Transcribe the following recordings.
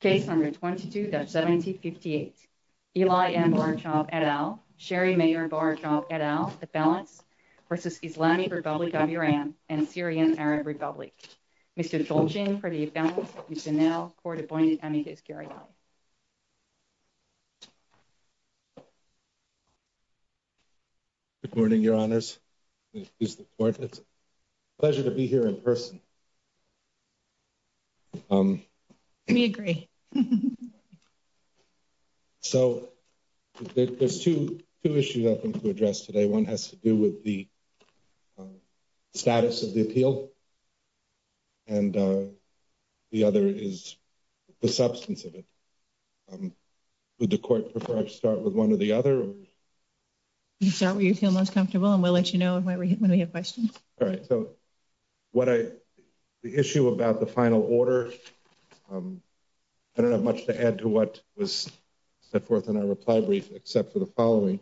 Case number 22-1758. Eli M. Borochov et al. Sherry M. Borochov et al. Affalants v. Islamic Republic of Iran and Syrian Arab Republic. Mr. Cholchin for the Affalants. Mr. Nell for the appointed amicus. Gary Lai. Good morning, your honors. It's a pleasure to be here in person. We agree. So, there's two issues I think to address today. One has to do with the status of the appeal. And the other is the substance of it. Would the court prefer to start with one or the other? You start where you feel most comfortable and we'll let you know when we have questions. All right. So, the issue about the final order, I don't have much to add to what was set forth in our reply brief except for the following.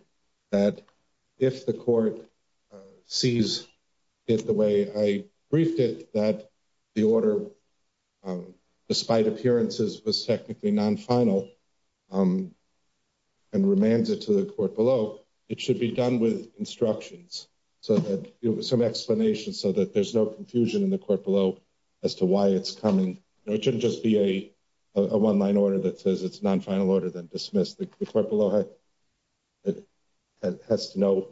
That if the court sees it the way I briefed it, that the order, despite appearances, was technically non-final and remains it to the court below, it should be done with instructions, some explanations so that there's no confusion in the court below as to why it's coming. It shouldn't just be a one-line order that says it's non-final order, then dismissed. The court below has to know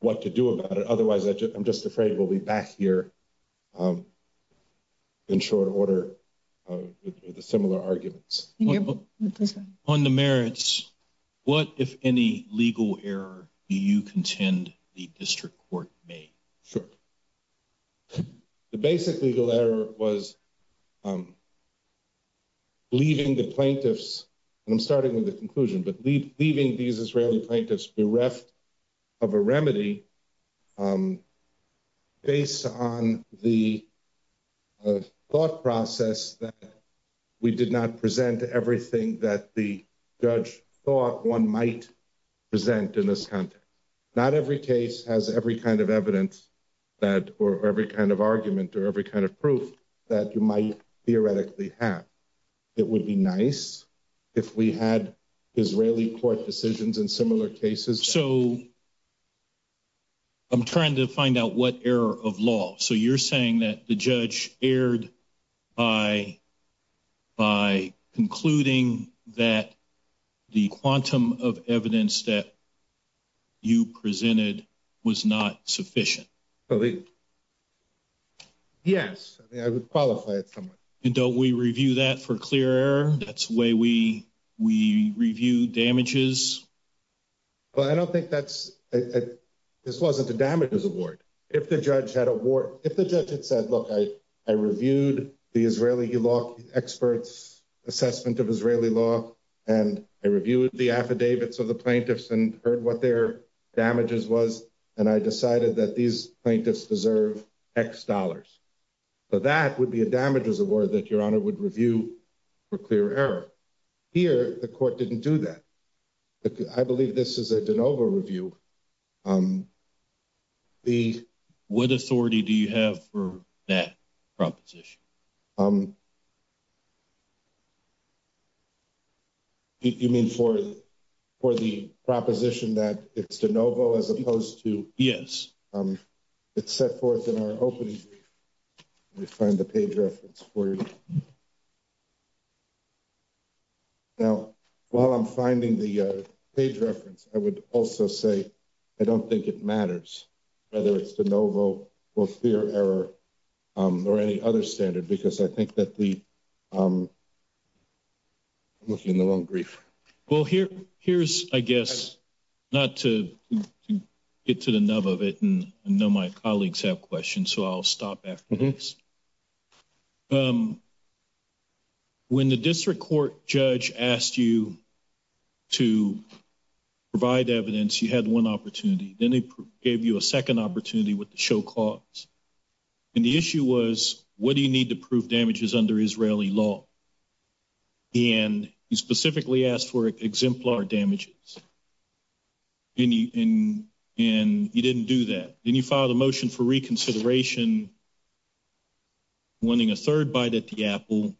what to do about it. Otherwise, I'm just afraid we'll be back here in short order with similar arguments. On the merits, what, if any, legal error do you contend the district court made? Sure. The basic legal error was leaving the plaintiffs, and I'm starting with the conclusion, but leaving these Israeli plaintiffs bereft of a remedy based on the thought process that we did not present everything that the judge thought one might present in this context. Not every case has every kind of evidence or every kind of argument or every kind of proof that you might theoretically have. It would be nice if we had Israeli court decisions in similar cases. So I'm trying to find out what error of law. So you're saying that the judge erred by concluding that the quantum of evidence that you presented was not sufficient? Yes. I would qualify it somewhat. And don't we review that for clear error? That's the way we review damages? Well, I don't think that's, this wasn't a damages award. If the judge had a war, if the judge had said, look, I reviewed the Israeli law experts assessment of Israeli law, and I reviewed the affidavits of the plaintiffs and heard what their damages was, and I decided that these plaintiffs deserve X dollars. So that would be a damages award that your honor would review for clear error. Here, the court didn't do that. I believe this is a de novo review. What authority do you have for that proposition? You mean for the proposition that it's de novo as opposed to? Yes. It's set forth in our opening. We find the page reference for you. Now, while I'm finding the page reference, I would also say, I don't think it matters whether it's de novo or clear error or any other standard, because I think that the. I'm looking in the wrong brief. Well, here, here's, I guess, not to get to the nub of it, and I know my colleagues have questions, so I'll stop after this. When the district court judge asked you to provide evidence, you had one opportunity, then they gave you a second opportunity with the show cause. And the issue was, what do you need to prove damages under Israeli law? And you specifically asked for exemplar damages. And you didn't do that, and you filed a motion for reconsideration. Winning a third bite at the apple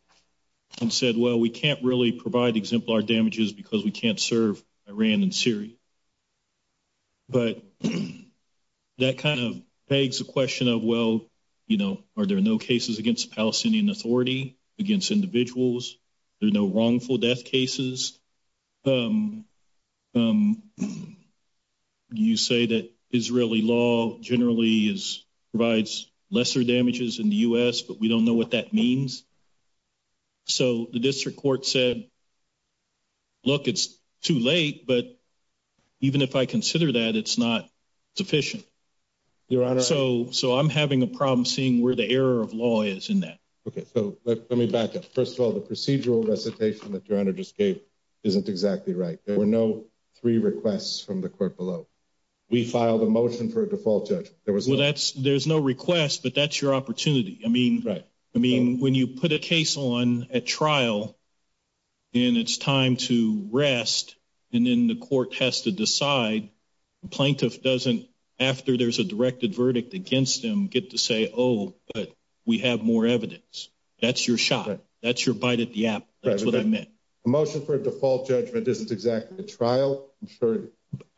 and said, well, we can't really provide exemplar damages because we can't serve Iran and Syria. But that kind of begs the question of, well, you know, are there no cases against Palestinian authority against individuals? There's no wrongful death cases. You say that Israeli law generally is provides lesser damages in the US, but we don't know what that means. So the district court said, look, it's too late, but even if I consider that, it's not sufficient. Your honor, so so I'm having a problem seeing where the error of law is in that. Okay, so let me back up. First of all, the procedural recitation that you're under just gave isn't exactly right. There were no three requests from the court below. We filed a motion for a default judge. Well, that's there's no request, but that's your opportunity. I mean, right. I mean, when you put a case on a trial. And it's time to rest. And then the court has to decide. Plaintiff doesn't after there's a directed verdict against them, get to say, oh, but we have more evidence. That's your shot. That's your bite at the app. That's what I meant. A motion for a default judgment isn't exactly a trial.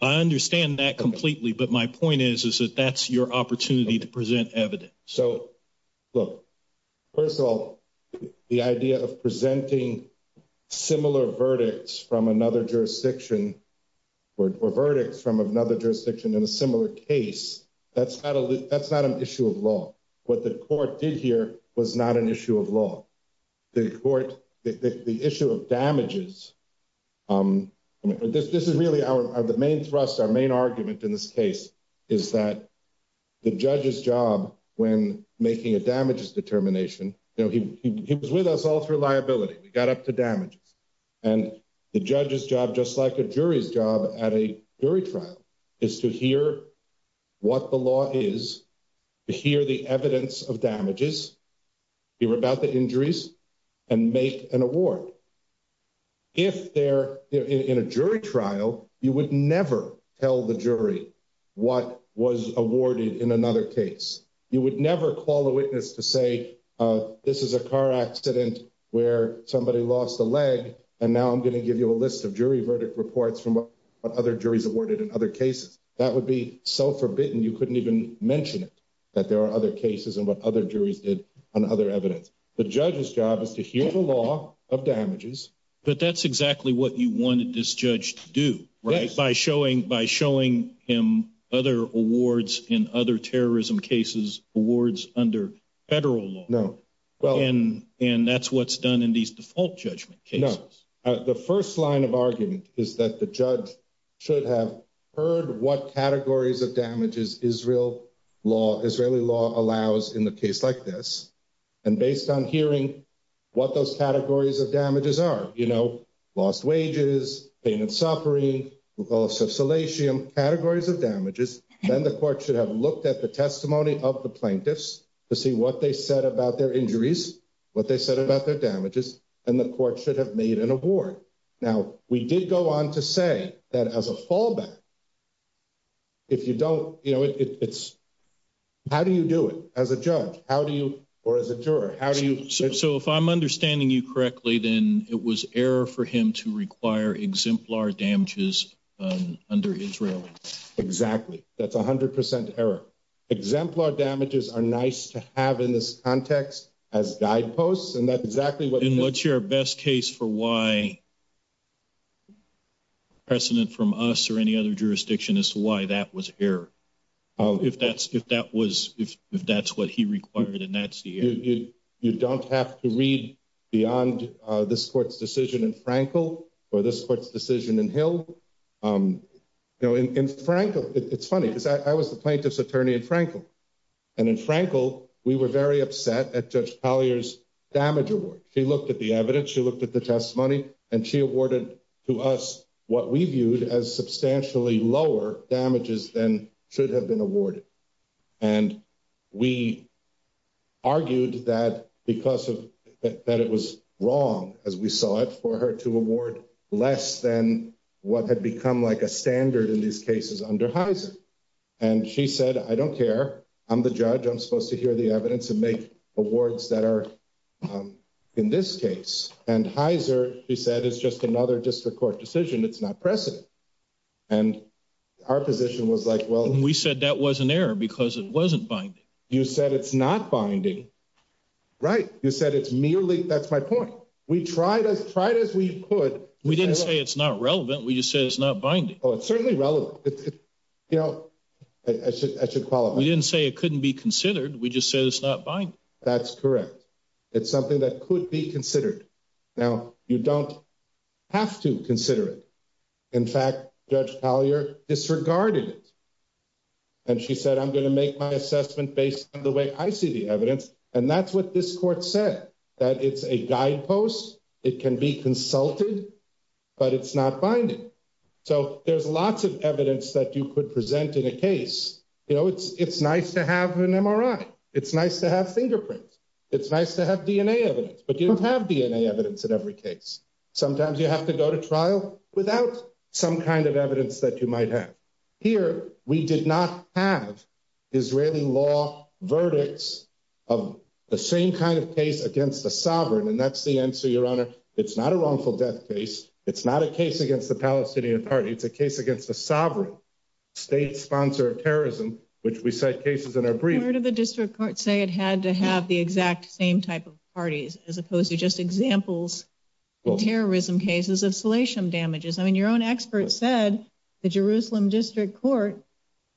I understand that completely. But my point is, is that that's your opportunity to present evidence. So, look, first of all, the idea of presenting similar verdicts from another jurisdiction or verdicts from another jurisdiction in a similar case. That's not a that's not an issue of law. What the court did here was not an issue of law. The court, the issue of damages. This is really the main thrust, our main argument in this case is that the judge's job when making a damages determination, he was with us all through liability. We got up to damages and the judge's job, just like a jury's job at a jury trial is to hear what the law is. To hear the evidence of damages, hear about the injuries and make an award. If they're in a jury trial, you would never tell the jury what was awarded in another case. You would never call a witness to say this is a car accident where somebody lost a leg. And now I'm going to give you a list of jury verdict reports from other juries awarded in other cases. That would be self-forbidden. You couldn't even mention it, that there are other cases and what other juries did on other evidence. The judge's job is to hear the law of damages. But that's exactly what you wanted this judge to do, right? By showing by showing him other awards in other terrorism cases, awards under federal law. No, well, and and that's what's done in these default judgment. The first line of argument is that the judge should have heard what categories of damages Israel law, Israeli law allows in the case like this. And based on hearing what those categories of damages are, you know, lost wages, pain and suffering. Also, salatium categories of damages. Then the court should have looked at the testimony of the plaintiffs to see what they said about their injuries. What they said about their damages and the court should have made an award. Now, we did go on to say that as a fallback. If you don't, you know, it's how do you do it as a judge? How do you or as a juror? How do you? So if I'm understanding you correctly, then it was error for him to require exemplar damages under Israel. Exactly. That's 100 percent error. Exemplar damages are nice to have in this context as guideposts. And that's exactly what and what's your best case for why. President from us or any other jurisdiction is why that was here. Oh, if that's if that was if if that's what he required and that's you. You don't have to read beyond this court's decision in Frankel or this court's decision in Hill. In Frankel, it's funny because I was the plaintiff's attorney in Frankel. And in Frankel, we were very upset at Judge Collier's damage award. She looked at the evidence. She looked at the testimony and she awarded to us what we viewed as substantially lower damages than should have been awarded. And we argued that because of that, it was wrong as we saw it for her to award less than what had become like a standard in these cases under Heiser. And she said, I don't care. I'm the judge. I'm supposed to hear the evidence and make awards that are in this case. And Heiser, she said, is just another district court decision. It's not precedent. And our position was like, well, we said that was an error because it wasn't binding. You said it's not binding. Right. You said it's merely. That's my point. We tried as tried as we could. We didn't say it's not relevant. We just said it's not binding. Oh, it's certainly relevant. You know, I should I should follow. We didn't say it couldn't be considered. We just said it's not buying. That's correct. It's something that could be considered. Now, you don't have to consider it. In fact, Judge Collier disregarded it. And she said, I'm going to make my assessment based on the way I see the evidence. And that's what this court said, that it's a guidepost. It can be consulted, but it's not binding. So there's lots of evidence that you could present in a case. You know, it's it's nice to have an MRI. It's nice to have fingerprints. It's nice to have DNA evidence, but you don't have DNA evidence in every case. Sometimes you have to go to trial without some kind of evidence that you might have. Here, we did not have Israeli law verdicts of the same kind of case against the sovereign. And that's the answer, Your Honor. It's not a wrongful death case. It's not a case against the Palestinian Party. It's a case against the sovereign state sponsor of terrorism, which we cite cases in our brief. Where did the district court say it had to have the exact same type of parties as opposed to just examples? Terrorism cases of salatium damages. I mean, your own expert said the Jerusalem district court,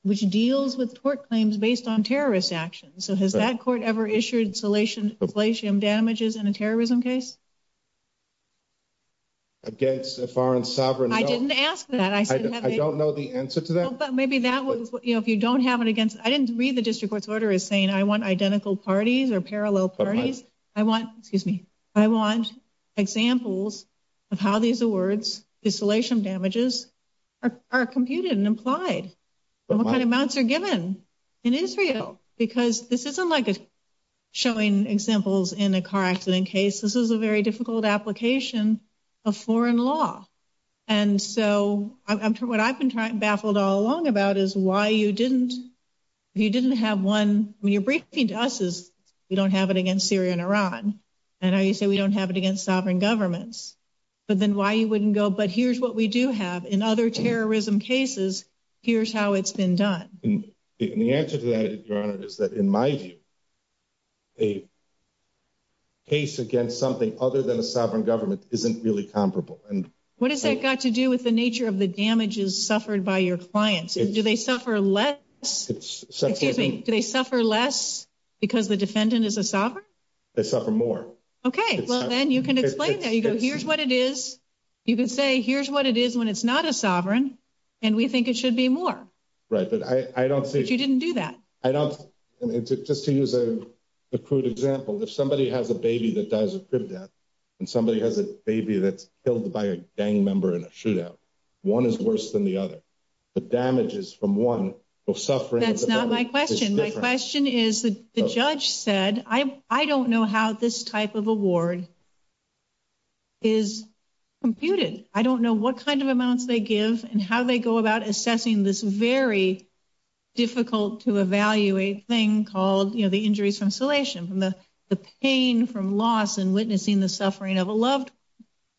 which deals with tort claims based on terrorist actions. So has that court ever issued salatium damages in a terrorism case? Against a foreign sovereign. I didn't ask that. I don't know the answer to that. But maybe that was if you don't have it against. I didn't read the district court's order is saying I want identical parties or parallel parties. I want, excuse me. I want examples of how these awards, the salatium damages are computed and implied. What kind of amounts are given in Israel? Because this isn't like showing examples in a car accident case. This is a very difficult application of foreign law. And so what I've been baffled all along about is why you didn't, you didn't have one. I mean, you're briefing to us is we don't have it against Syria and Iran. And I say we don't have it against sovereign governments. But then why you wouldn't go. But here's what we do have in other terrorism cases. Here's how it's been done. And the answer to that, Your Honor, is that in my view. A case against something other than a sovereign government isn't really comparable. And what does that got to do with the nature of the damages suffered by your clients? Do they suffer less? Excuse me. Do they suffer less because the defendant is a sovereign? They suffer more. Okay. Well, then you can explain that. You go here's what it is. You can say here's what it is when it's not a sovereign. And we think it should be more. Right. But I don't see. But you didn't do that. I don't. Just to use a crude example. If somebody has a baby that dies of crib death and somebody has a baby that's killed by a gang member in a shootout. One is worse than the other. The damages from one will suffer. That's not my question. My question is, the judge said, I don't know how this type of award is computed. I don't know what kind of amounts they give and how they go about assessing this very difficult to evaluate thing called, you know, the injuries from insulation, the pain from loss and witnessing the suffering of a loved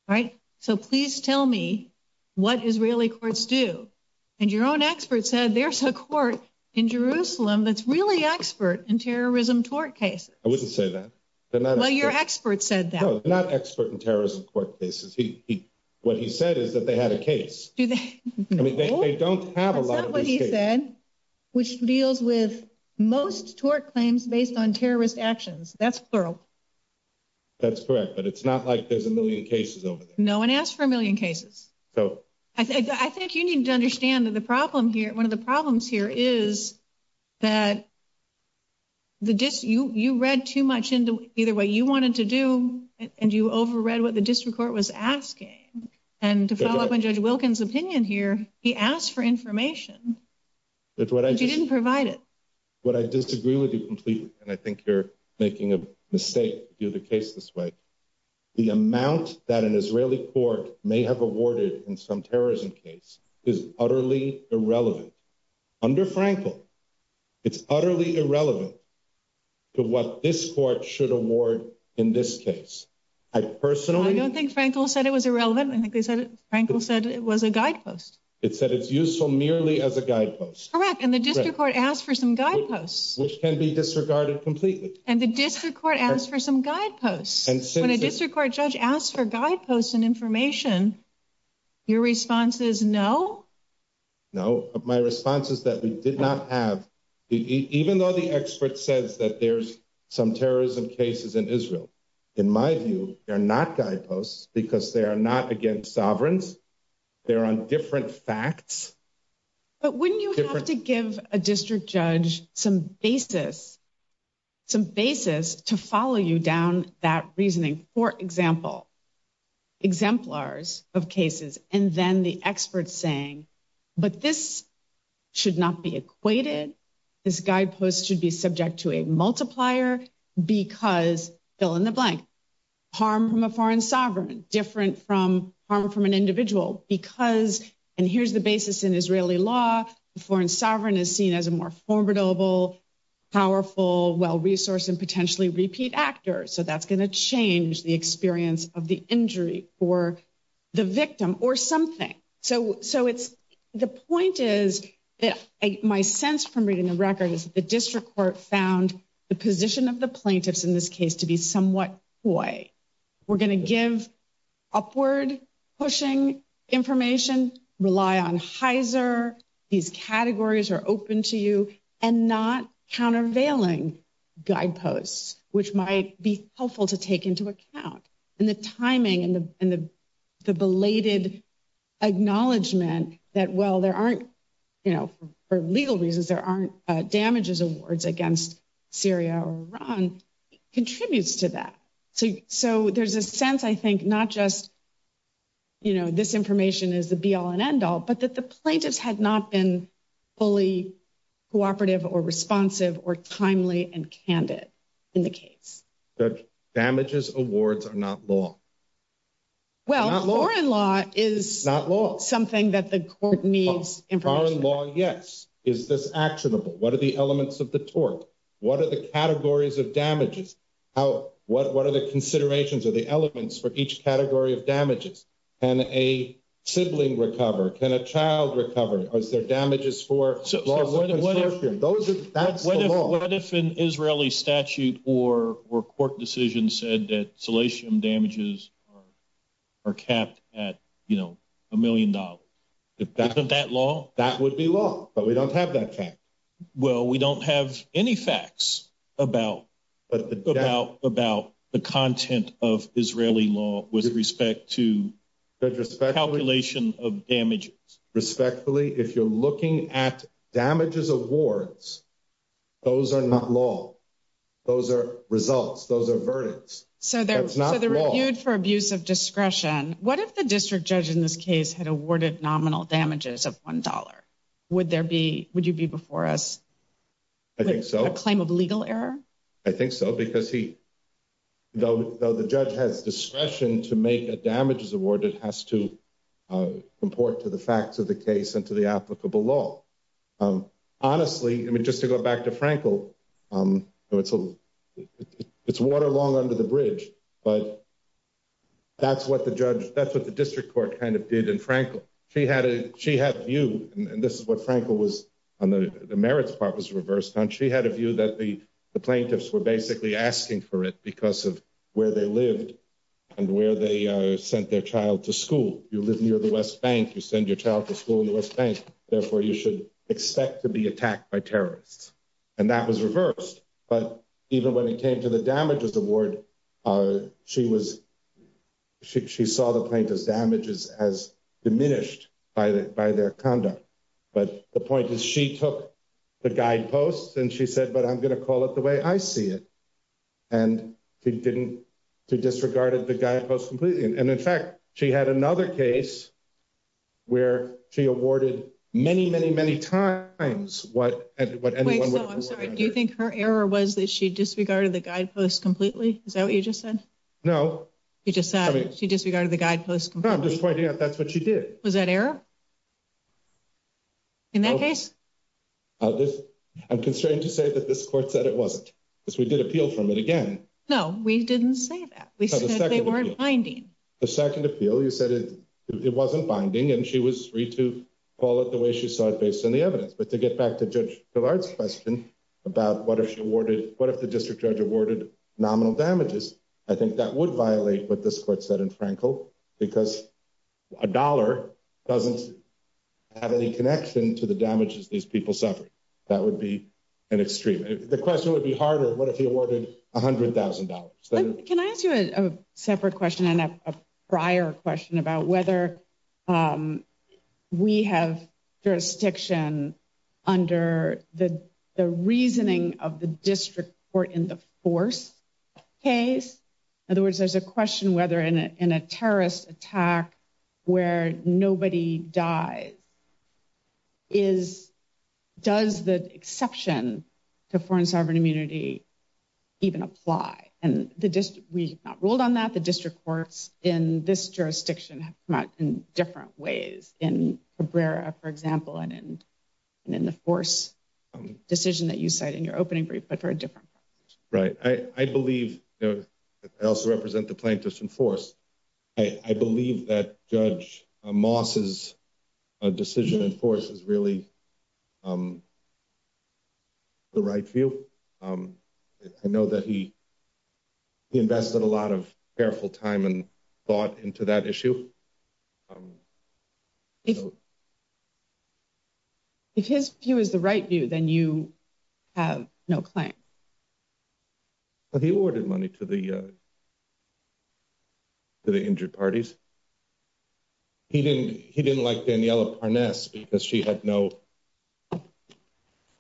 one. Right. So please tell me what Israeli courts do. And your own expert said there's a court in Jerusalem that's really expert in terrorism tort cases. I wouldn't say that. Well, your expert said that. No, not expert in terrorism court cases. What he said is that they had a case. I mean, they don't have a lot of these cases. That's not what he said, which deals with most tort claims based on terrorist actions. That's plural. That's correct. But it's not like there's a million cases over there. No one asked for a million cases. So I think you need to understand that the problem here, one of the problems here is that the dis you read too much into either way you wanted to do. And you overread what the district court was asking. And to follow up on Judge Wilkins opinion here, he asked for information. But you didn't provide it. But I disagree with you completely. And I think you're making a mistake to do the case this way. The amount that an Israeli court may have awarded in some terrorism case is utterly irrelevant. Under Frankel, it's utterly irrelevant to what this court should award in this case. I personally. I don't think Frankel said it was irrelevant. I think Frankel said it was a guidepost. It said it's useful merely as a guidepost. Correct. And the district court asked for some guideposts. Which can be disregarded completely. And the district court asked for some guideposts. When a district court judge asked for guideposts and information, your response is no? No. My response is that we did not have. Even though the expert says that there's some terrorism cases in Israel, in my view, they're not guideposts because they are not against sovereigns. They're on different facts. But wouldn't you have to give a district judge some basis to follow you down that reasoning? For example, exemplars of cases and then the experts saying, but this should not be equated. This guidepost should be subject to a multiplier because fill in the blank. Harm from a foreign sovereign. Different from harm from an individual. Because, and here's the basis in Israeli law, foreign sovereign is seen as a more formidable, powerful, well-resourced and potentially repeat actor. So that's going to change the experience of the injury or the victim or something. So it's the point is that my sense from reading the record is the district court found the position of the plaintiffs in this case to be somewhat coy. We're going to give upward pushing information, rely on Heiser. These categories are open to you and not countervailing guideposts, which might be helpful to take into account. And the timing and the belated acknowledgement that, well, there aren't, you know, for legal reasons, there aren't damages awards against Syria or Iran contributes to that. So there's a sense, I think, not just, you know, this information is the be all and end all, but that the plaintiffs had not been fully cooperative or responsive or timely and candid in the case. That damages awards are not law. Well, foreign law is something that the court needs information on. Foreign law, yes. Is this actionable? What are the elements of the tort? What are the categories of damages? What are the considerations or the elements for each category of damages? Can a sibling recover? Can a child recover? Are there damages for lawful consortium? What if an Israeli statute or court decision said that salatium damages are capped at, you know, a million dollars? Isn't that law? That would be law, but we don't have that fact. Well, we don't have any facts about the content of Israeli law with respect to calculation of damages. Respectfully, if you're looking at damages awards, those are not law. Those are results. Those are verdicts. So that's not for abuse of discretion. What if the district judge in this case had awarded nominal damages of one dollar? Would there be would you be before us? I think so. A claim of legal error. I think so, because he, though the judge has discretion to make a damages award, it has to report to the facts of the case and to the applicable law. Honestly, I mean, just to go back to Frankl, it's water long under the bridge. But that's what the judge that's what the district court kind of did. She had a she had you. And this is what Frankl was on. The merits part was reversed on. She had a view that the plaintiffs were basically asking for it because of where they lived and where they sent their child to school. You live near the West Bank. You send your child to school in the West Bank. Therefore, you should expect to be attacked by terrorists. And that was reversed. But even when it came to the damages award, she was she saw the plaintiff's damages as diminished by their conduct. But the point is, she took the guideposts and she said, but I'm going to call it the way I see it. And he didn't disregarded the guideposts completely. And in fact, she had another case where she awarded many, many, many times. What do you think her error was that she disregarded the guideposts completely? Is that what you just said? No, you just said she disregarded the guideposts. I'm just pointing out that's what she did. Was that error? In that case, I'm constrained to say that this court said it wasn't because we did appeal from it again. No, we didn't say that. We said they weren't finding the second appeal. You said it wasn't binding and she was free to call it the way she saw it based on the evidence. But to get back to Judge Gillard's question about what if she awarded what if the district judge awarded nominal damages? I think that would violate what this court said in Frankel, because a dollar doesn't have any connection to the damages these people suffered. That would be an extreme. The question would be harder. What if he awarded $100,000? Can I ask you a separate question and a prior question about whether we have jurisdiction under the reasoning of the district court in the force case? In other words, there's a question whether in a terrorist attack where nobody dies, does the exception to foreign sovereign immunity even apply? We have not ruled on that. The district courts in this jurisdiction have come out in different ways. In Cabrera, for example, and in the force decision that you cite in your opening brief, but for a different purpose. Right. I believe I also represent the plaintiffs in force. I believe that Judge Moss's decision in force is really the right view. I know that he invested a lot of careful time and thought into that issue. If his view is the right view, then you have no claim. He awarded money to the injured parties. He didn't like Daniela Parnes because she had no.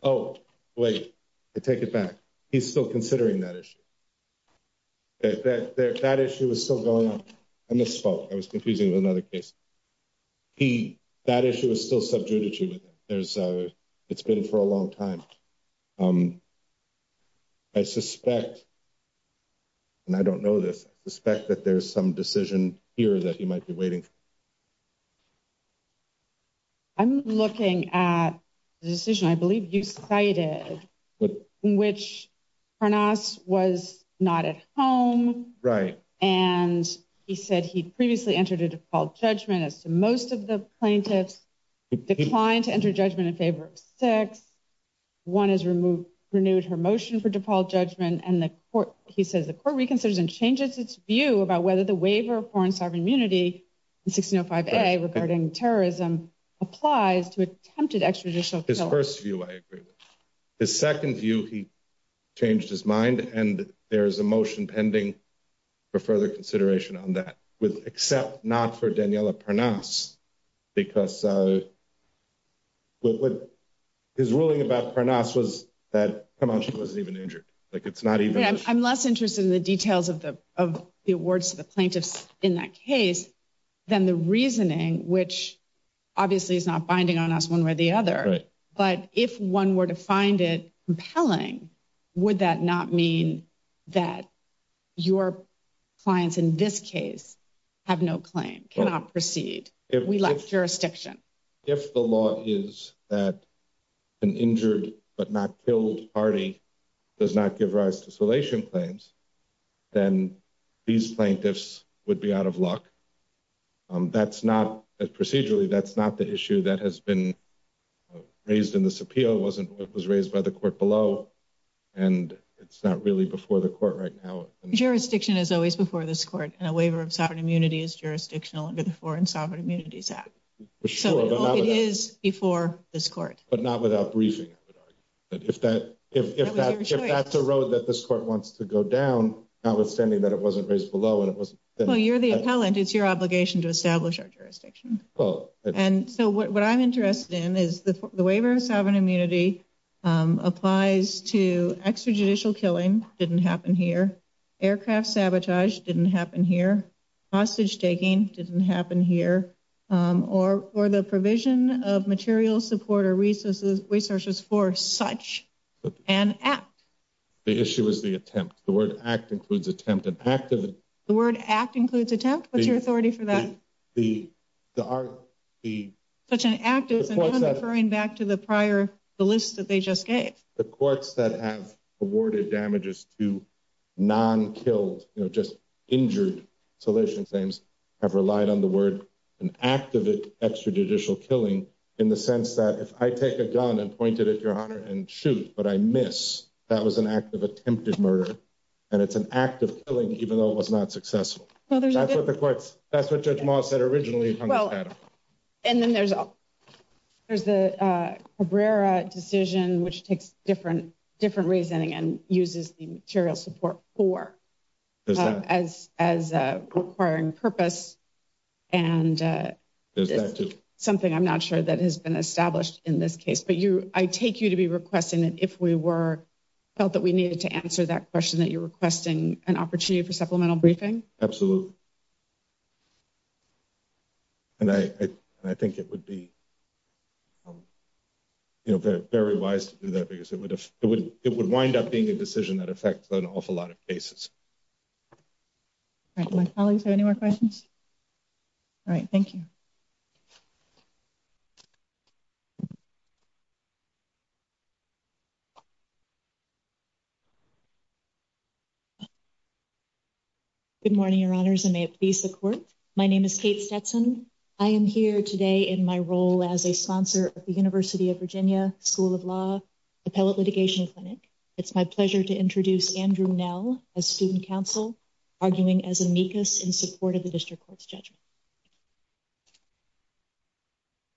Oh, wait, I take it back. He's still considering that issue. That issue is still going on. I misspoke. I was confusing with another case. That issue is still sub judiciary. It's been for a long time. I suspect, and I don't know this, I suspect that there's some decision here that he might be waiting. I'm looking at the decision, I believe you cited, which Parnas was not at home. Right. And he said he'd previously entered a default judgment as to most of the plaintiffs declined to enter judgment in favor of six. One is removed, renewed her motion for default judgment. He says the court reconsiders and changes its view about whether the waiver of foreign sovereign immunity in 1605 regarding terrorism applies to attempted extrajudicial. His first view, I agree with his second view. He changed his mind. And there is a motion pending for further consideration on that with except not for Daniela Parnas, because. But his ruling about Parnas was that she wasn't even injured. Like, it's not even I'm less interested in the details of the of the awards to the plaintiffs in that case than the reasoning, which obviously is not binding on us one way or the other. But if one were to find it compelling, would that not mean that your clients in this case have no claim cannot proceed? We lost jurisdiction. If the law is that an injured but not killed party does not give rise to insulation claims, then these plaintiffs would be out of luck. That's not procedurally. That's not the issue that has been raised in this appeal. It wasn't it was raised by the court below. And it's not really before the court right now. Jurisdiction is always before this court and a waiver of sovereign immunity is jurisdictional under the Foreign Sovereign Immunities Act. So it is before this court, but not without briefing. But if that if that's a road that this court wants to go down, notwithstanding that it wasn't raised below and it was. Well, you're the appellant. It's your obligation to establish our jurisdiction. And so what I'm interested in is the waiver of sovereign immunity applies to extrajudicial killing. Didn't happen here. Aircraft sabotage didn't happen here. Hostage taking didn't happen here or or the provision of material support or resources, resources for such an act. The issue is the attempt. The word act includes attempted active. The word act includes attempt. What's your authority for that? The the the such an act is referring back to the prior the list that they just gave. The courts that have awarded damages to non killed, just injured. Salvation claims have relied on the word and active extrajudicial killing in the sense that if I take a gun and pointed at your honor and shoot, but I miss. That was an act of attempted murder. And it's an act of killing, even though it was not successful. Well, that's what the courts. That's what Judge Moss said originally. Well, and then there's there's the career decision, which takes different different reasoning and uses the material support for as as requiring purpose. And there's something I'm not sure that has been established in this case. But you I take you to be requesting that if we were felt that we needed to answer that question, that you're requesting an opportunity for supplemental briefing. Absolutely. And I, I think it would be very wise to do that because it would it would it would wind up being a decision that affects an awful lot of cases. My colleagues have any more questions. All right. Thank you. Good morning, your honors, and may it please the court. My name is Kate Stetson. I am here today in my role as a sponsor of the University of Virginia School of Law Appellate Litigation Clinic. It's my pleasure to introduce Andrew Nell, a student counsel, arguing as amicus in support of the district court's judgment.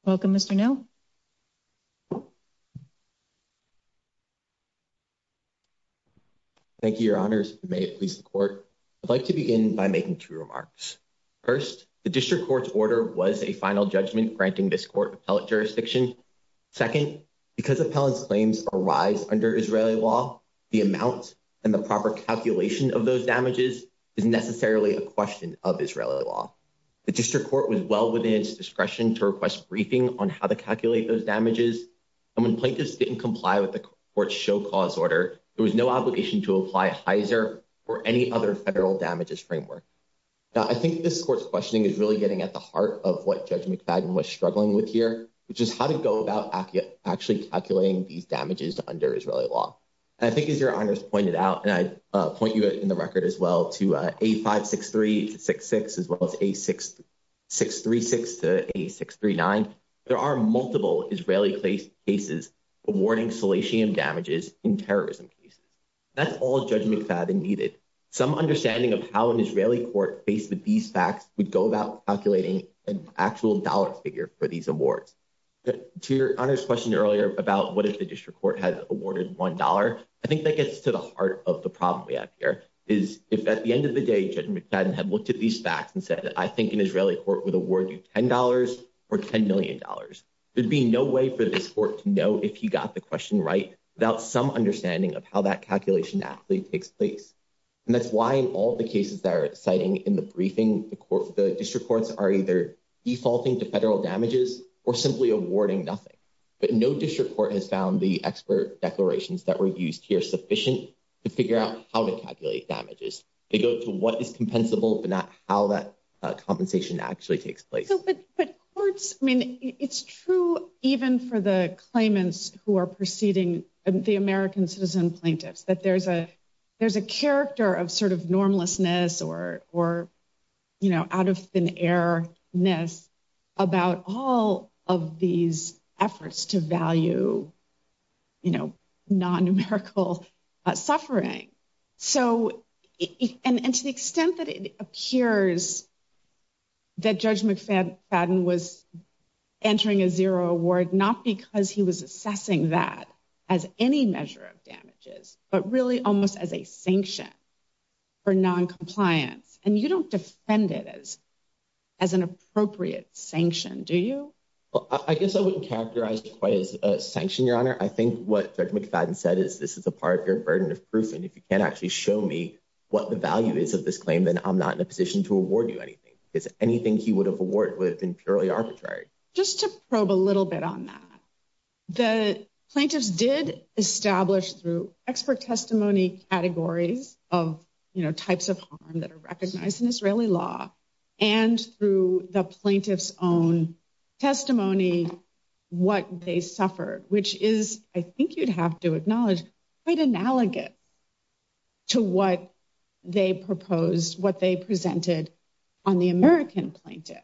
Welcome, Mr. Nell. Thank you, your honors. May it please the court. I'd like to begin by making two remarks. First, the district court's order was a final judgment granting this court appellate jurisdiction. Second, because appellant's claims arise under Israeli law, the amount and the proper calculation of those damages is necessarily a question of Israeli law. The district court was well within its discretion to request briefing on how to calculate those damages. And when plaintiffs didn't comply with the court's show cause order, there was no obligation to apply Heiser or any other federal damages framework. I think this court's questioning is really getting at the heart of what Judge McFadden was struggling with here, which is how to go about actually calculating these damages under Israeli law. I think, as your honors pointed out, and I point you in the record as well, to A563 to 66, as well as A636 to A639, there are multiple Israeli cases awarding salatium damages in terrorism cases. That's all Judge McFadden needed. Some understanding of how an Israeli court faced with these facts would go about calculating an actual dollar figure for these awards. To your honors' question earlier about what if the district court had awarded $1, I think that gets to the heart of the problem we have here, is if at the end of the day Judge McFadden had looked at these facts and said, I think an Israeli court would award you $10 or $10 million. There'd be no way for this court to know if he got the question right without some understanding of how that calculation actually takes place. And that's why in all the cases that are citing in the briefing, the district courts are either defaulting to federal damages or simply awarding nothing. But no district court has found the expert declarations that were used here sufficient to figure out how to calculate damages. They go to what is compensable, but not how that compensation actually takes place. But courts, I mean, it's true even for the claimants who are proceeding, the American citizen plaintiffs, that there's a character of sort of normlessness or out of thin air-ness about all of these efforts to value non-numerical suffering. And to the extent that it appears that Judge McFadden was entering a zero award not because he was assessing that as any measure of damages, but really almost as a sanction for noncompliance. And you don't defend it as an appropriate sanction, do you? Well, I guess I wouldn't characterize it quite as a sanction, Your Honor. I think what Judge McFadden said is this is a part of your burden of proof. And if you can't actually show me what the value is of this claim, then I'm not in a position to award you anything. Because anything he would have awarded would have been purely arbitrary. Just to probe a little bit on that, the plaintiffs did establish through expert testimony categories of types of harm that are recognized in Israeli law and through the plaintiff's own testimony what they suffered, which is, I think you'd have to acknowledge, quite analogous to what they proposed, what they presented on the American plaintiffs.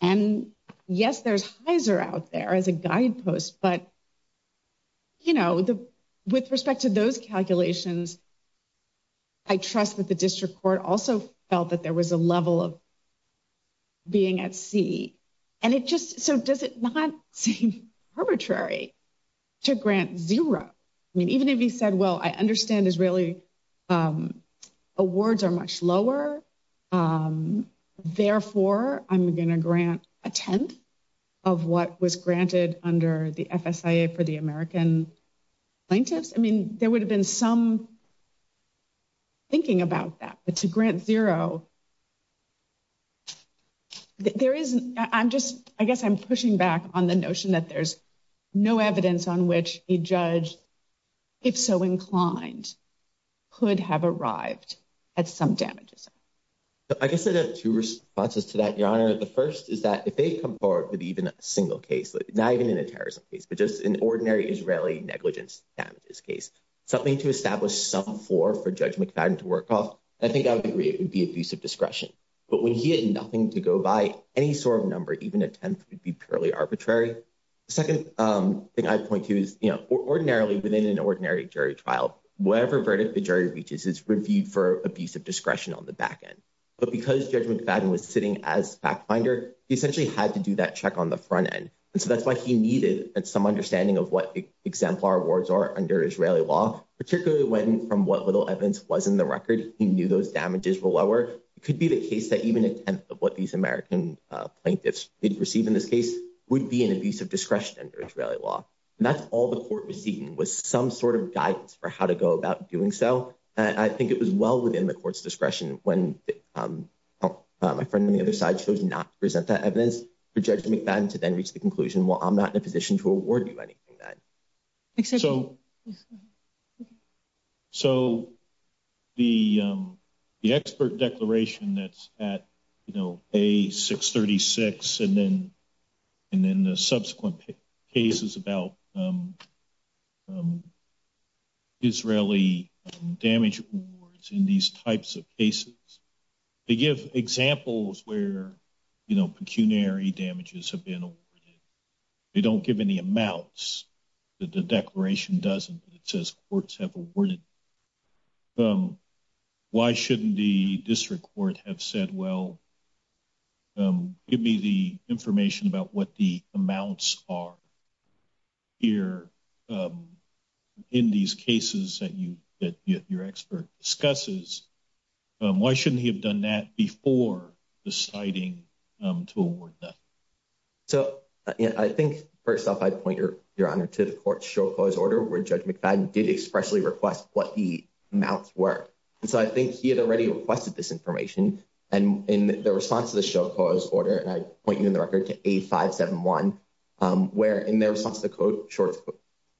And yes, there's Heiser out there as a guidepost. But, you know, with respect to those calculations, I trust that the district court also felt that there was a level of being at sea. And it just, so does it not seem arbitrary to grant zero? I mean, even if he said, well, I understand Israeli awards are much lower. Therefore, I'm going to grant a tenth of what was granted under the FSIA for the American plaintiffs. I mean, there would have been some thinking about that. But to grant zero, there is, I'm just, I guess I'm pushing back on the notion that there's no evidence on which a judge, if so inclined, could have arrived at some damages. I guess I have two responses to that, Your Honor. The first is that if they come forward with even a single case, not even in a terrorism case, but just an ordinary Israeli negligence damages case, something to establish some floor for Judge McFadden to work off, I think I would agree it would be abusive discretion. But when he had nothing to go by, any sort of number, even a tenth, would be purely arbitrary. The second thing I'd point to is, you know, ordinarily within an ordinary jury trial, whatever verdict the jury reaches is reviewed for abusive discretion on the back end. But because Judge McFadden was sitting as fact finder, he essentially had to do that check on the front end. And so that's why he needed some understanding of what exemplar awards are under Israeli law, particularly when, from what little evidence was in the record, he knew those damages were lower. It could be the case that even a tenth of what these American plaintiffs did receive in this case would be an abusive discretion under Israeli law. And that's all the court was seeking was some sort of guidance for how to go about doing so. Well, I think it was well within the court's discretion when my friend on the other side chose not to present that evidence for Judge McFadden to then reach the conclusion, well, I'm not in a position to award you anything then. So the expert declaration that's at, you know, A636 and then the subsequent cases about Israeli damage awards in these types of cases, they give examples where, you know, pecuniary damages have been awarded. They don't give any amounts. The declaration doesn't. It says courts have awarded. Why shouldn't the district court have said, well, give me the information about what the amounts are here in these cases that your expert discusses? Why shouldn't he have done that before deciding to award that? So, I think, first off, I'd point your honor to the court's show cause order where Judge McFadden did expressly request what the amounts were. And so I think he had already requested this information. And in the response to the show cause order, and I point you in the record to A571, where in their response to the court's show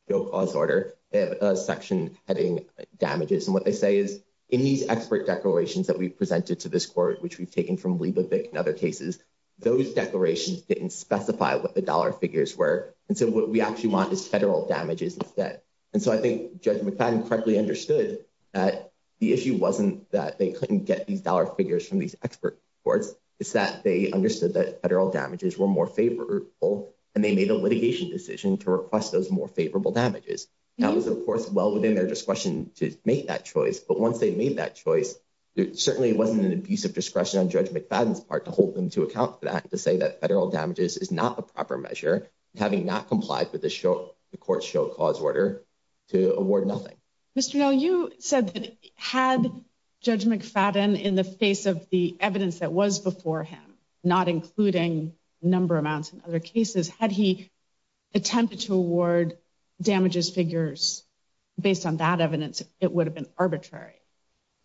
cause order, they have a section having damages. And what they say is in these expert declarations that we presented to this court, which we've taken from Liebevich and other cases, those declarations didn't specify what the dollar figures were. And so what we actually want is federal damages instead. And so I think Judge McFadden correctly understood that the issue wasn't that they couldn't get these dollar figures from these expert courts. It's that they understood that federal damages were more favorable, and they made a litigation decision to request those more favorable damages. That was, of course, well within their discretion to make that choice. But once they made that choice, there certainly wasn't an abuse of discretion on Judge McFadden's part to hold them to account for that, to say that federal damages is not the proper measure, having not complied with the court's show cause order to award nothing. Mr. Nell, you said that had Judge McFadden in the face of the evidence that was before him, not including number amounts in other cases, had he attempted to award damages figures based on that evidence, it would have been arbitrary.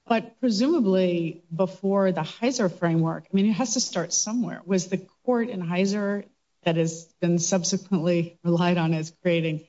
But presumably before the Heiser framework, I mean, it has to start somewhere. Was the court in Heiser that has been subsequently relied on as creating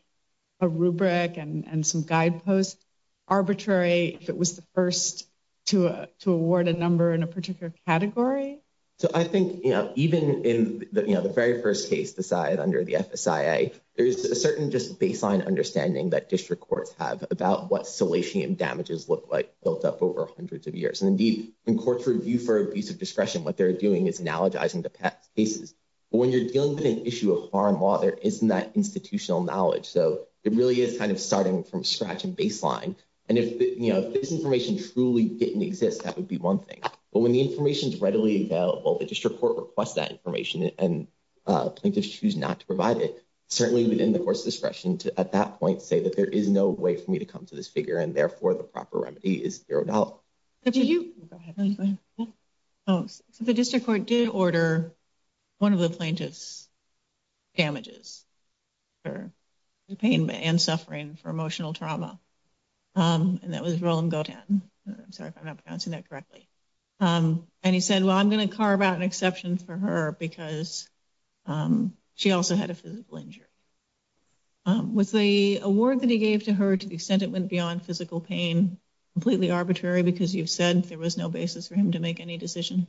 a rubric and some guideposts arbitrary if it was the first to award a number in a particular category? So I think even in the very first case decided under the FSIA, there's a certain just baseline understanding that district courts have about what salatium damages look like built up over hundreds of years. And indeed, in court's review for abuse of discretion, what they're doing is analogizing the past cases. But when you're dealing with an issue of foreign law, there isn't that institutional knowledge. So it really is kind of starting from scratch and baseline. And if this information truly didn't exist, that would be one thing. But when the information is readily available, the district court requests that information and plaintiffs choose not to provide it. Certainly within the court's discretion to at that point say that there is no way for me to come to this figure and therefore the proper remedy is zeroed out. Go ahead. The district court did order one of the plaintiff's damages for the pain and suffering for emotional trauma. And that was Roland Gotan. I'm sorry if I'm not pronouncing that correctly. And he said, well, I'm going to carve out an exception for her because she also had a physical injury. Was the award that he gave to her, to the extent it went beyond physical pain, completely arbitrary because you've said there was no basis for him to make any decision?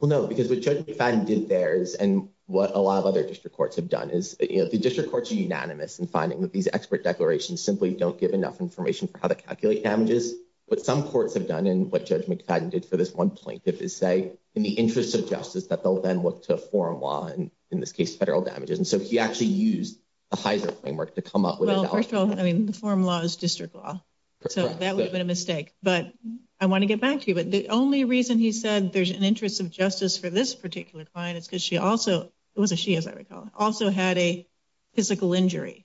Well, no, because what Judge McFadden did there is and what a lot of other district courts have done is, you know, the district courts are unanimous in finding that these expert declarations simply don't give enough information for how to calculate damages. But some courts have done and what Judge McFadden did for this one plaintiff is say, in the interest of justice, that they'll then look to a foreign law and in this case, federal damages. And so he actually used the Heiser framework to come up with it. Well, first of all, I mean, the foreign law is district law. So that would have been a mistake. But I want to get back to you. But the only reason he said there's an interest of justice for this particular client is because she also was a she, as I recall, also had a physical injury.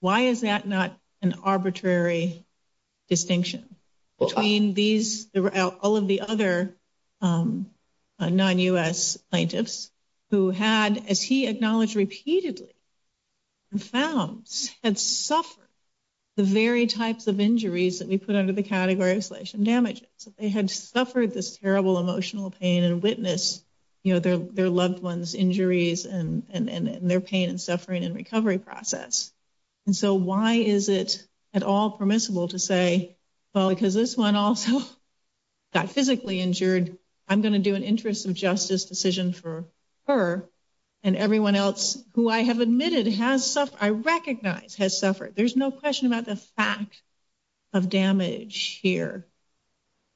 Why is that not an arbitrary distinction between these, all of the other non-U.S. plaintiffs who had, as he acknowledged repeatedly, had suffered the very types of injuries that we put under the category of selection damages. They had suffered this terrible emotional pain and witnessed, you know, their loved ones injuries and their pain and suffering and recovery process. And so why is it at all permissible to say, well, because this one also got physically injured, I'm going to do an interest of justice decision for her and everyone else who I have admitted has suffered, I recognize has suffered. There's no question about the fact of damage here,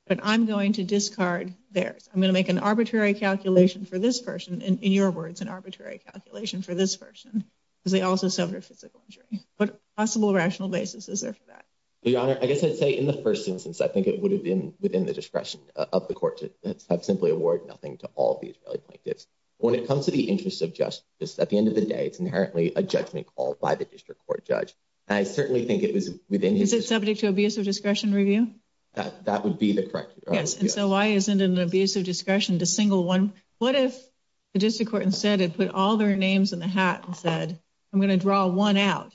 but I'm going to discard theirs. I'm going to make an arbitrary calculation for this person, in your words, an arbitrary calculation for this person, because they also suffered a physical injury. What possible rational basis is there for that? Your Honor, I guess I'd say in the first instance, I think it would have been within the discretion of the court to have simply awarded nothing to all of the Israeli plaintiffs. When it comes to the interest of justice, at the end of the day, it's inherently a judgment called by the district court judge. I certainly think it was within his... Is it subject to abusive discretion review? That would be the correct... Yes, and so why isn't it an abusive discretion to single one? What if the district court instead had put all their names in the hat and said, I'm going to draw one out.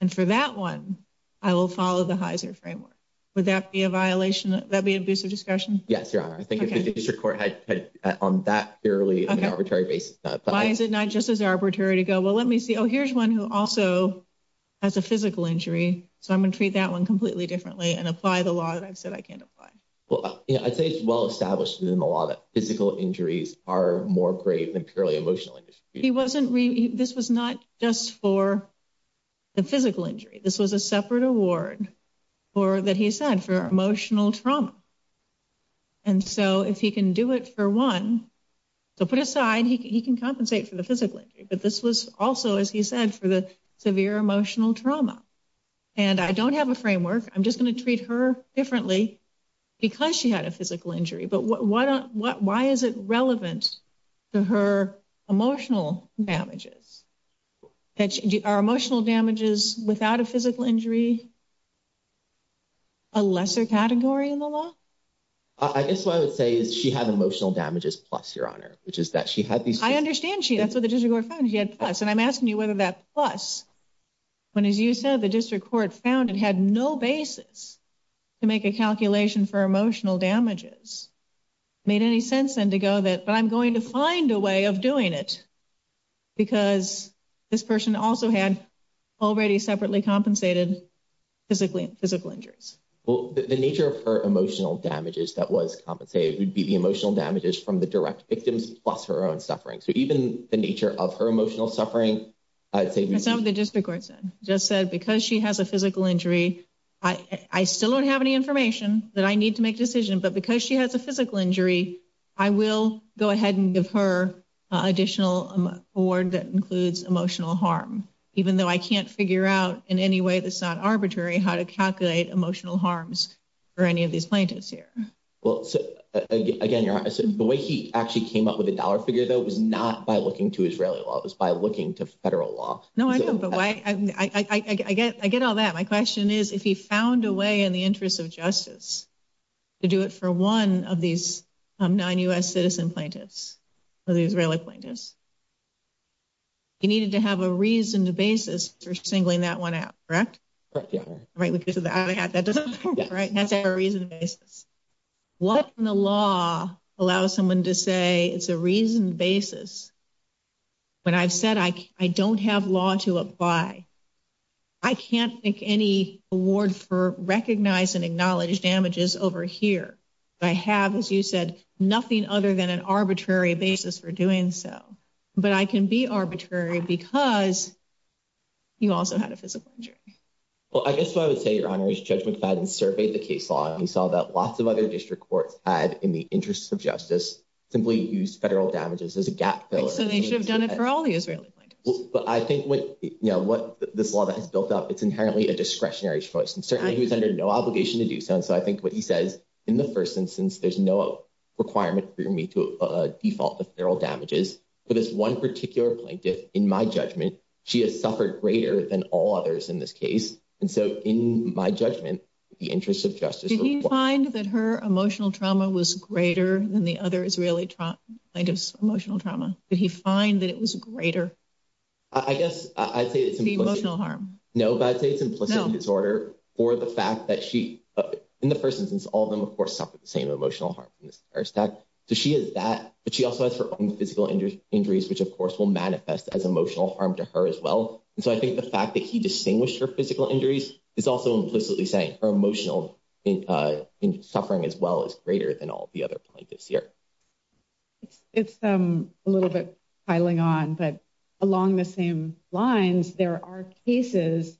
And for that one, I will follow the Heiser framework. Would that be a violation? That'd be abusive discretion? Yes, Your Honor. I think if the district court had on that purely arbitrary basis... Why is it not just as arbitrary to go, well, let me see. Oh, here's one who also has a physical injury. So I'm going to treat that one completely differently and apply the law that I've said I can't apply. Well, I'd say it's well established in the law that physical injuries are more grave than purely emotional. He wasn't... This was not just for the physical injury. This was a separate award that he said for emotional trauma. And so if he can do it for one... So put aside, he can compensate for the physical injury. But this was also, as he said, for the severe emotional trauma. And I don't have a framework. I'm just going to treat her differently because she had a physical injury. But why is it relevant to her emotional damages? Are emotional damages without a physical injury a lesser category in the law? I guess what I would say is she had emotional damages plus, Your Honor, which is that she had these... I understand she... That's what the district court found. She had plus. And I'm asking you whether that plus... When, as you said, the district court found it had no basis to make a calculation for emotional damages. Made any sense then to go that... But I'm going to find a way of doing it because this person also had already separately compensated physical injuries. Well, the nature of her emotional damages that was compensated would be the emotional damages from the direct victims plus her own suffering. So even the nature of her emotional suffering, I'd say... That's not what the district court said. Just said because she has a physical injury, I still don't have any information that I need to make a decision. But because she has a physical injury, I will go ahead and give her additional award that includes emotional harm. Even though I can't figure out in any way that's not arbitrary how to calculate emotional harms for any of these plaintiffs here. Well, again, Your Honor, the way he actually came up with the dollar figure, though, was not by looking to Israeli law. It was by looking to federal law. No, I know, but I get all that. My question is, if he found a way in the interest of justice to do it for one of these nine U.S. citizen plaintiffs, the Israeli plaintiffs, he needed to have a reasoned basis for singling that one out, correct? Right, yeah. That doesn't work, right? He has to have a reasoned basis. What in the law allows someone to say it's a reasoned basis when I've said I don't have law to apply? I can't make any award for recognized and acknowledged damages over here. I have, as you said, nothing other than an arbitrary basis for doing so. But I can be arbitrary because you also had a physical injury. Well, I guess what I would say, Your Honor, is Judge McFadden surveyed the case law, and he saw that lots of other district courts had, in the interest of justice, simply used federal damages as a gap filler. So they should have done it for all the Israeli plaintiffs. But I think what this law that has built up, it's inherently a discretionary choice. And certainly he was under no obligation to do so. And so I think what he says in the first instance, there's no requirement for me to default the federal damages. But this one particular plaintiff, in my judgment, she has suffered greater than all others in this case. And so in my judgment, in the interest of justice. Did he find that her emotional trauma was greater than the other Israeli plaintiff's emotional trauma? Did he find that it was greater? I guess I'd say it's the emotional harm. No, I'd say it's implicit disorder for the fact that she, in the first instance, all of them, of course, suffered the same emotional harm. So she has that, but she also has her own physical injuries, which, of course, will manifest as emotional harm to her as well. And so I think the fact that he distinguished her physical injuries is also implicitly saying her emotional suffering as well is greater than all the other plaintiffs here. It's a little bit piling on, but along the same lines, there are cases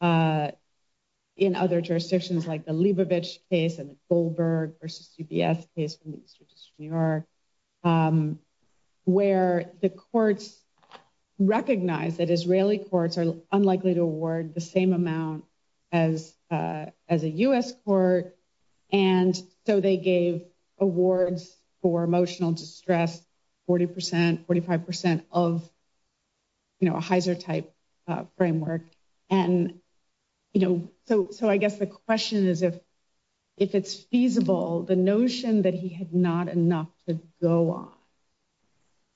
in other jurisdictions like the Leibovitch case and the Goldberg versus CBS case from the Eastern District of New York. Where the courts recognize that Israeli courts are unlikely to award the same amount as a U.S. court. And so they gave awards for emotional distress, 40 percent, 45 percent of a Heizer type framework. And so I guess the question is, if it's feasible, the notion that he had not enough to go on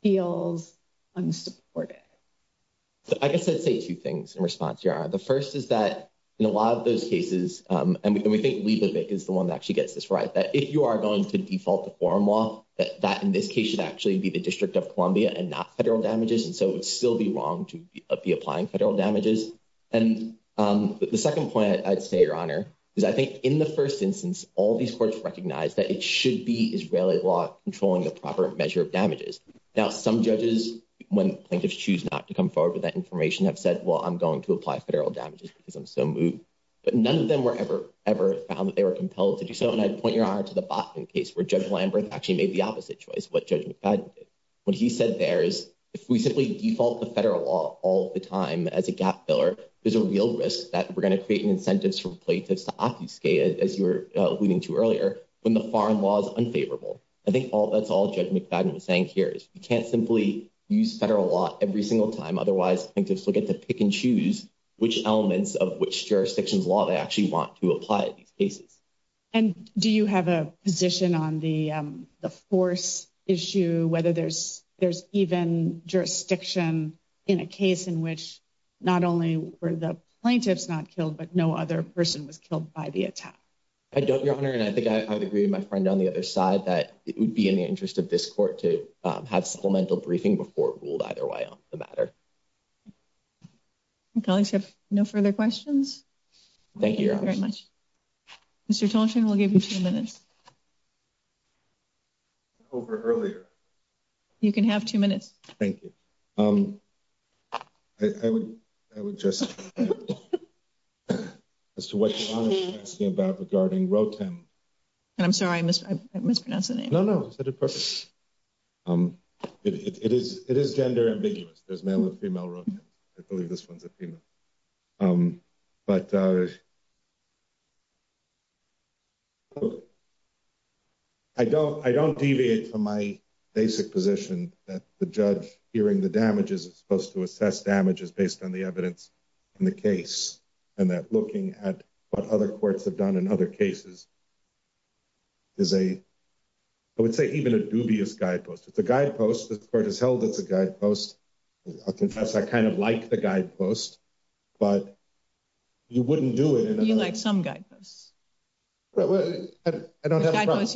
feels unsupported. I guess I'd say two things in response, Yara. The first is that in a lot of those cases, and we think Leibovitch is the one that actually gets this right, that if you are going to default to foreign law, that in this case should actually be the District of Columbia and not federal damages. And so it would still be wrong to be applying federal damages. And the second point I'd say, Your Honor, is I think in the first instance, all these courts recognize that it should be Israeli law controlling the proper measure of damages. Now, some judges, when plaintiffs choose not to come forward with that information, have said, well, I'm going to apply federal damages because I'm so moved. But none of them were ever found that they were compelled to do so. The second point I'd point, Your Honor, to the Botvin case, where Judge Lamberth actually made the opposite choice, what Judge McFadden did. What he said there is, if we simply default to federal law all the time as a gap filler, there's a real risk that we're going to create incentives for plaintiffs to obfuscate, as you were alluding to earlier, when the foreign law is unfavorable. I think that's all Judge McFadden was saying here, is you can't simply use federal law every single time. Otherwise, plaintiffs will get to pick and choose which elements of which jurisdiction's law they actually want to apply in these cases. And do you have a position on the force issue, whether there's even jurisdiction in a case in which not only were the plaintiffs not killed, but no other person was killed by the attack? I don't, Your Honor, and I think I would agree with my friend on the other side that it would be in the interest of this court to have supplemental briefing before it ruled either way on the matter. Colleagues have no further questions? Thank you, Your Honor. Thank you very much. Mr. Tolchin, we'll give you two minutes. Over earlier. You can have two minutes. Thank you. I would just, as to what Your Honor was asking about regarding Rotem. I'm sorry, I mispronounced the name. No, no, you said it perfectly. It is gender ambiguous. There's male and female Rotems. I believe this one's a female. But I don't deviate from my basic position that the judge hearing the damages is supposed to assess damages based on the evidence in the case. And that looking at what other courts have done in other cases is a, I would say, even a dubious guidepost. It's a guidepost. The court has held it's a guidepost. I confess I kind of like the guidepost, but you wouldn't do it. You like some guideposts. I don't have a problem.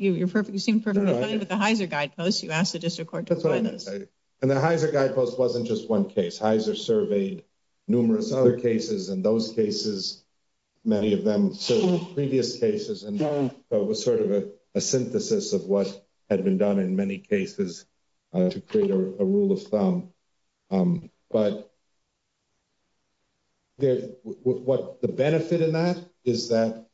You seem perfectly fine with the Heiser guidepost. You asked the district court to apply those. And the Heiser guidepost wasn't just one case. Heiser surveyed numerous other cases. And those cases, many of them previous cases, and it was sort of a synthesis of what had been done in many cases to create a rule of thumb. But what the benefit in that is that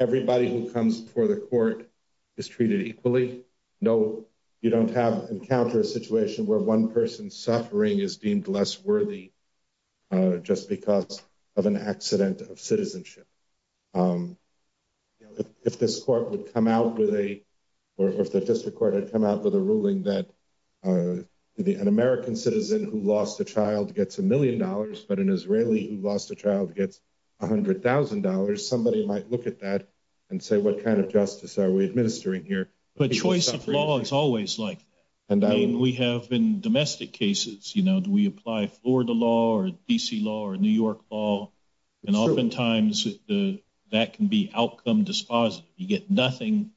everybody who comes before the court is treated equally. You don't encounter a situation where one person's suffering is deemed less worthy just because of an accident of citizenship. If this court would come out with a, or if the district court had come out with a ruling that an American citizen who lost a child gets a million dollars, but an Israeli who lost a child gets $100,000, somebody might look at that and say, what kind of justice are we administering here? But choice of law is always like that. I mean, we have in domestic cases, you know, do we apply Florida law or D.C. law or New York law? And oftentimes that can be outcome dispositive. You get nothing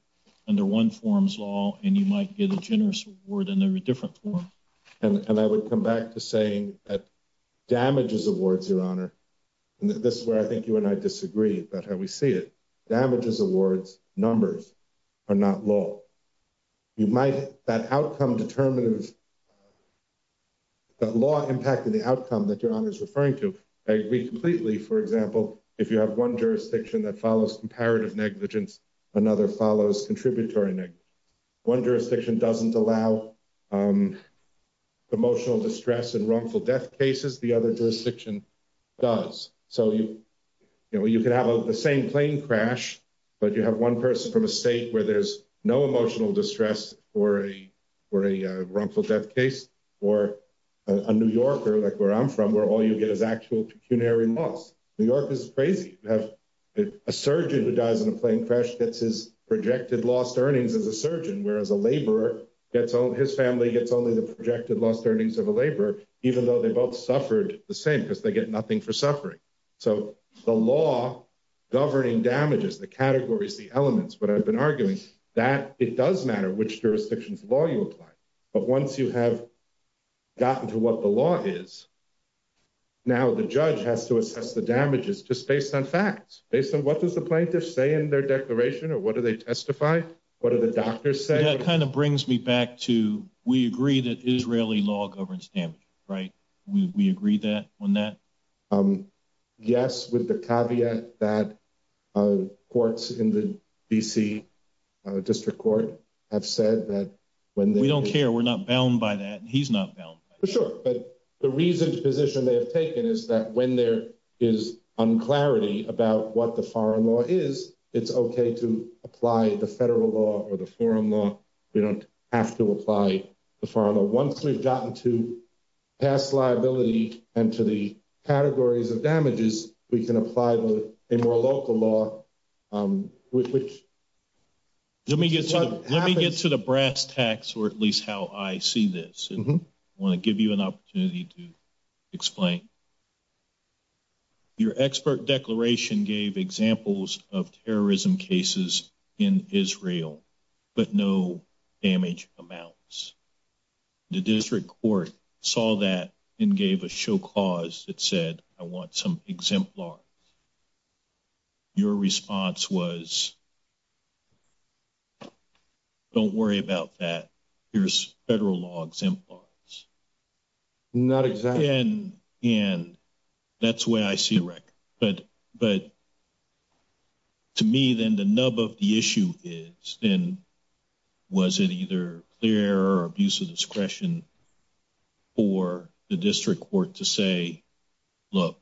under one form's law, and you might get a generous award under a different form. And I would come back to saying that damages awards your honor. This is where I think you and I disagree about how we see it. Damages awards numbers are not law. You might, that outcome determinative, that law impacted the outcome that your honor is referring to. I agree completely, for example, if you have one jurisdiction that follows comparative negligence, another follows contributory negligence. One jurisdiction doesn't allow emotional distress and wrongful death cases. The other jurisdiction does. So you can have the same plane crash, but you have one person from a state where there's no emotional distress or a wrongful death case, or a New Yorker like where I'm from, where all you get is actual pecuniary loss. New York is crazy. You have a surgeon who dies in a plane crash gets his projected lost earnings as a surgeon, whereas a laborer gets his family gets only the projected lost earnings of a laborer, even though they both suffered the same because they get nothing for suffering. So the law governing damages, the categories, the elements, what I've been arguing, that it does matter which jurisdiction's law you apply. But once you have gotten to what the law is. Now, the judge has to assess the damages just based on facts based on what does the plaintiff say in their declaration or what do they testify? What are the doctors say that kind of brings me back to we agree that Israeli law governs damage. Right? We agree that on that. Yes, with the caveat that courts in the DC district court have said that when we don't care, we're not bound by that. He's not sure. But the reason position they have taken is that when there is unclarity about what the foreign law is, it's okay to apply the federal law or the foreign law. We don't have to apply the foreign law once we've gotten to pass liability and to the categories of damages, we can apply a more local law, which. Let me get to the brass tacks, or at least how I see this. I want to give you an opportunity to explain. Your expert declaration gave examples of terrorism cases in Israel, but no damage amounts. The district court saw that and gave a show cause that said, I want some exemplar. Your response was. Don't worry about that. Here's federal law exemplars. Not exactly and that's where I see. But, but. To me, then the nub of the issue is in. Was it either clear or abuse of discretion? Or the district court to say, look.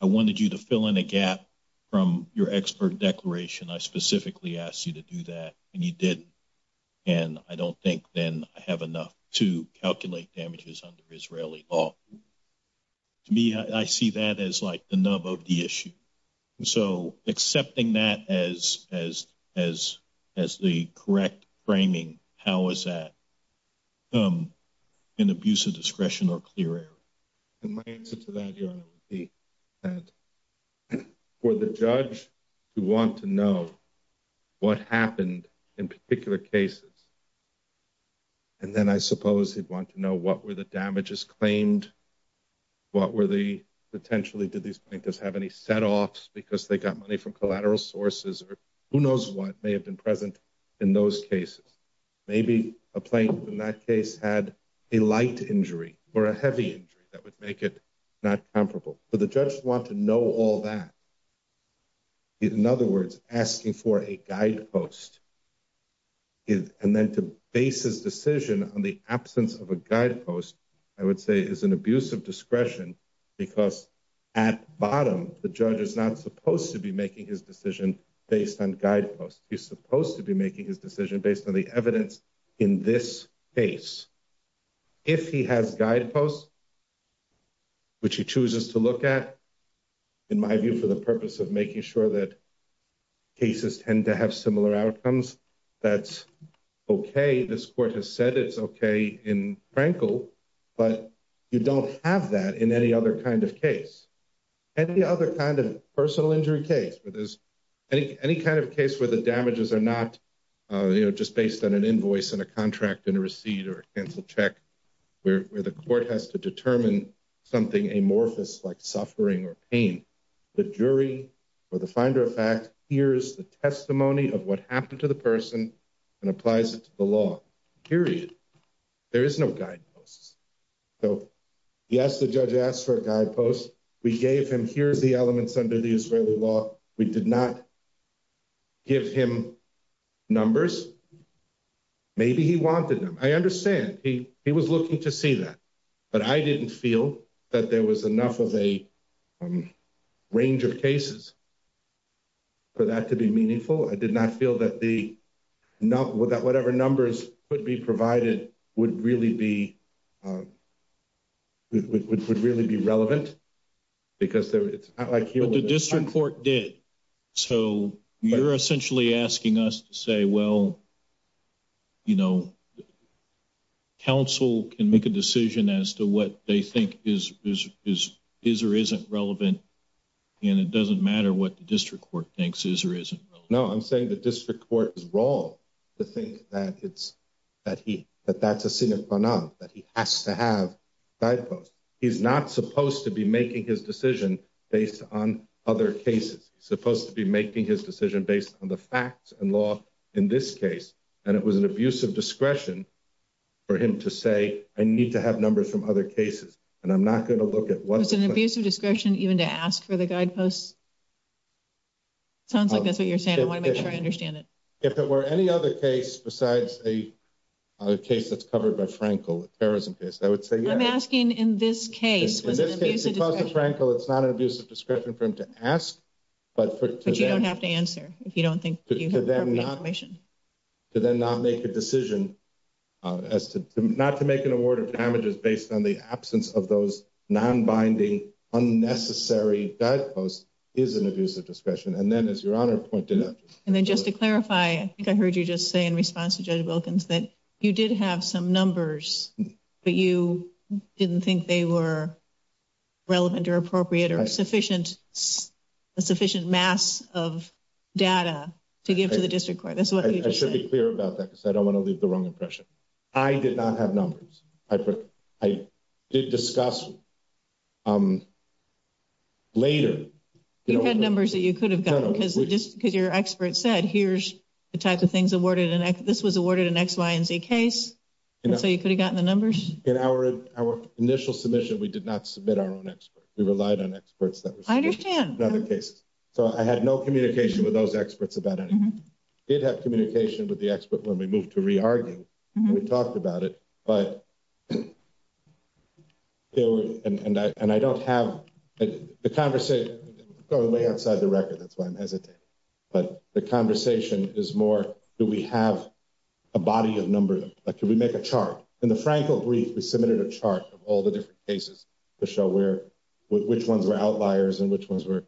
I wanted you to fill in a gap from your expert declaration. I specifically asked you to do that and you did. And I don't think then I have enough to calculate damages under Israeli law. To me, I see that as, like, the nub of the issue. So accepting that as, as, as, as the correct framing, how is that? An abuse of discretion or clear air. And my answer to that. For the judge to want to know. What happened in particular cases. And then I suppose he'd want to know what were the damages claimed. What were the potentially did these plaintiffs have any set offs because they got money from collateral sources or who knows what may have been present in those cases. Maybe a plane in that case had a light injury or a heavy injury that would make it. Not comfortable, but the judge want to know all that. In other words, asking for a guide post. And then to base his decision on the absence of a guide post, I would say is an abuse of discretion. Because at bottom, the judge is not supposed to be making his decision based on guide posts. He's supposed to be making his decision based on the evidence in this case. If he has guide posts. Which he chooses to look at. In my view, for the purpose of making sure that. Cases tend to have similar outcomes. That's okay. This court has said it's okay in Frankl. But you don't have that in any other kind of case. And the other kind of personal injury case, but there's any kind of case where the damages are not just based on an invoice and a contract and a receipt or canceled check. Where the court has to determine something amorphous, like suffering or pain. The jury or the finder of fact, here's the testimony of what happened to the person. And applies it to the law period. There is no guide posts. So, yes, the judge asked for a guide post. We gave him here's the elements under the Israeli law. We did not give him numbers. Maybe he wanted them. I understand. He was looking to see that. But I didn't feel that there was enough of a range of cases. For that to be meaningful. I did not feel that the number that whatever numbers could be provided would really be. Would really be relevant. Because it's not like the district court did. So you're essentially asking us to say, well. You know. Council can make a decision as to what they think is, is, is, is, or isn't relevant. And it doesn't matter what the district court thinks is or isn't. No, I'm saying the district court is wrong to think that it's. That he that that's a senior that he has to have. He's not supposed to be making his decision based on other cases. Supposed to be making his decision based on the facts and law in this case. And it was an abuse of discretion. For him to say, I need to have numbers from other cases. And I'm not going to look at what's an abuse of discretion even to ask for the guide posts. Sounds like that's what you're saying. I want to make sure I understand it. If it were any other case, besides a case that's covered by Frankel, a terrorism case, I would say, I'm asking in this case. Because of Frankel, it's not an abuse of discretion for him to ask. But you don't have to answer if you don't think. To then not make a decision as to not to make an award of damages based on the absence of those non-binding unnecessary guideposts is an abuse of discretion. And then, as your honor pointed out. And then just to clarify, I think I heard you just say in response to Judge Wilkins that you did have some numbers, but you didn't think they were relevant or appropriate or sufficient. A sufficient mass of data to give to the district court. That's what you just said. I should be clear about that because I don't want to leave the wrong impression. I did not have numbers. I did discuss later. You had numbers that you could have gotten. Because your expert said, here's the type of things awarded. This was awarded an X, Y, and Z case. So you could have gotten the numbers. In our initial submission, we did not submit our own experts. We relied on experts. I understand. So I had no communication with those experts about anything. We did have communication with the expert when we moved to re-arguing. We talked about it. And I don't have the conversation. It's going way outside the record. That's why I'm hesitating. But the conversation is more, do we have a body of numbers? Can we make a chart? In the Frankel brief, we submitted a chart of all the different cases. To show which ones were outliers and which ones were.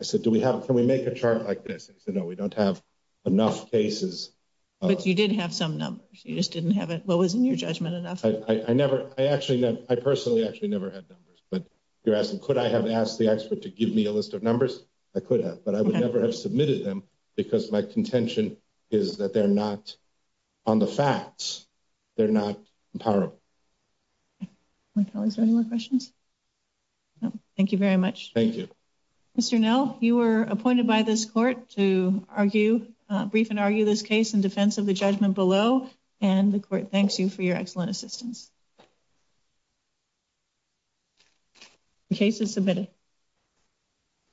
I said, can we make a chart like this? He said, no, we don't have enough cases. But you did have some numbers. You just didn't have it. Well, wasn't your judgment enough? I personally actually never had numbers. But you're asking, could I have asked the expert to give me a list of numbers? I could have. But I would never have submitted them because my contention is that they're not on the facts. They're not empowerable. Are there any more questions? Thank you very much. Thank you. Mr. Nell, you were appointed by this court to brief and argue this case in defense of the judgment below. And the court thanks you for your excellent assistance. The case is submitted.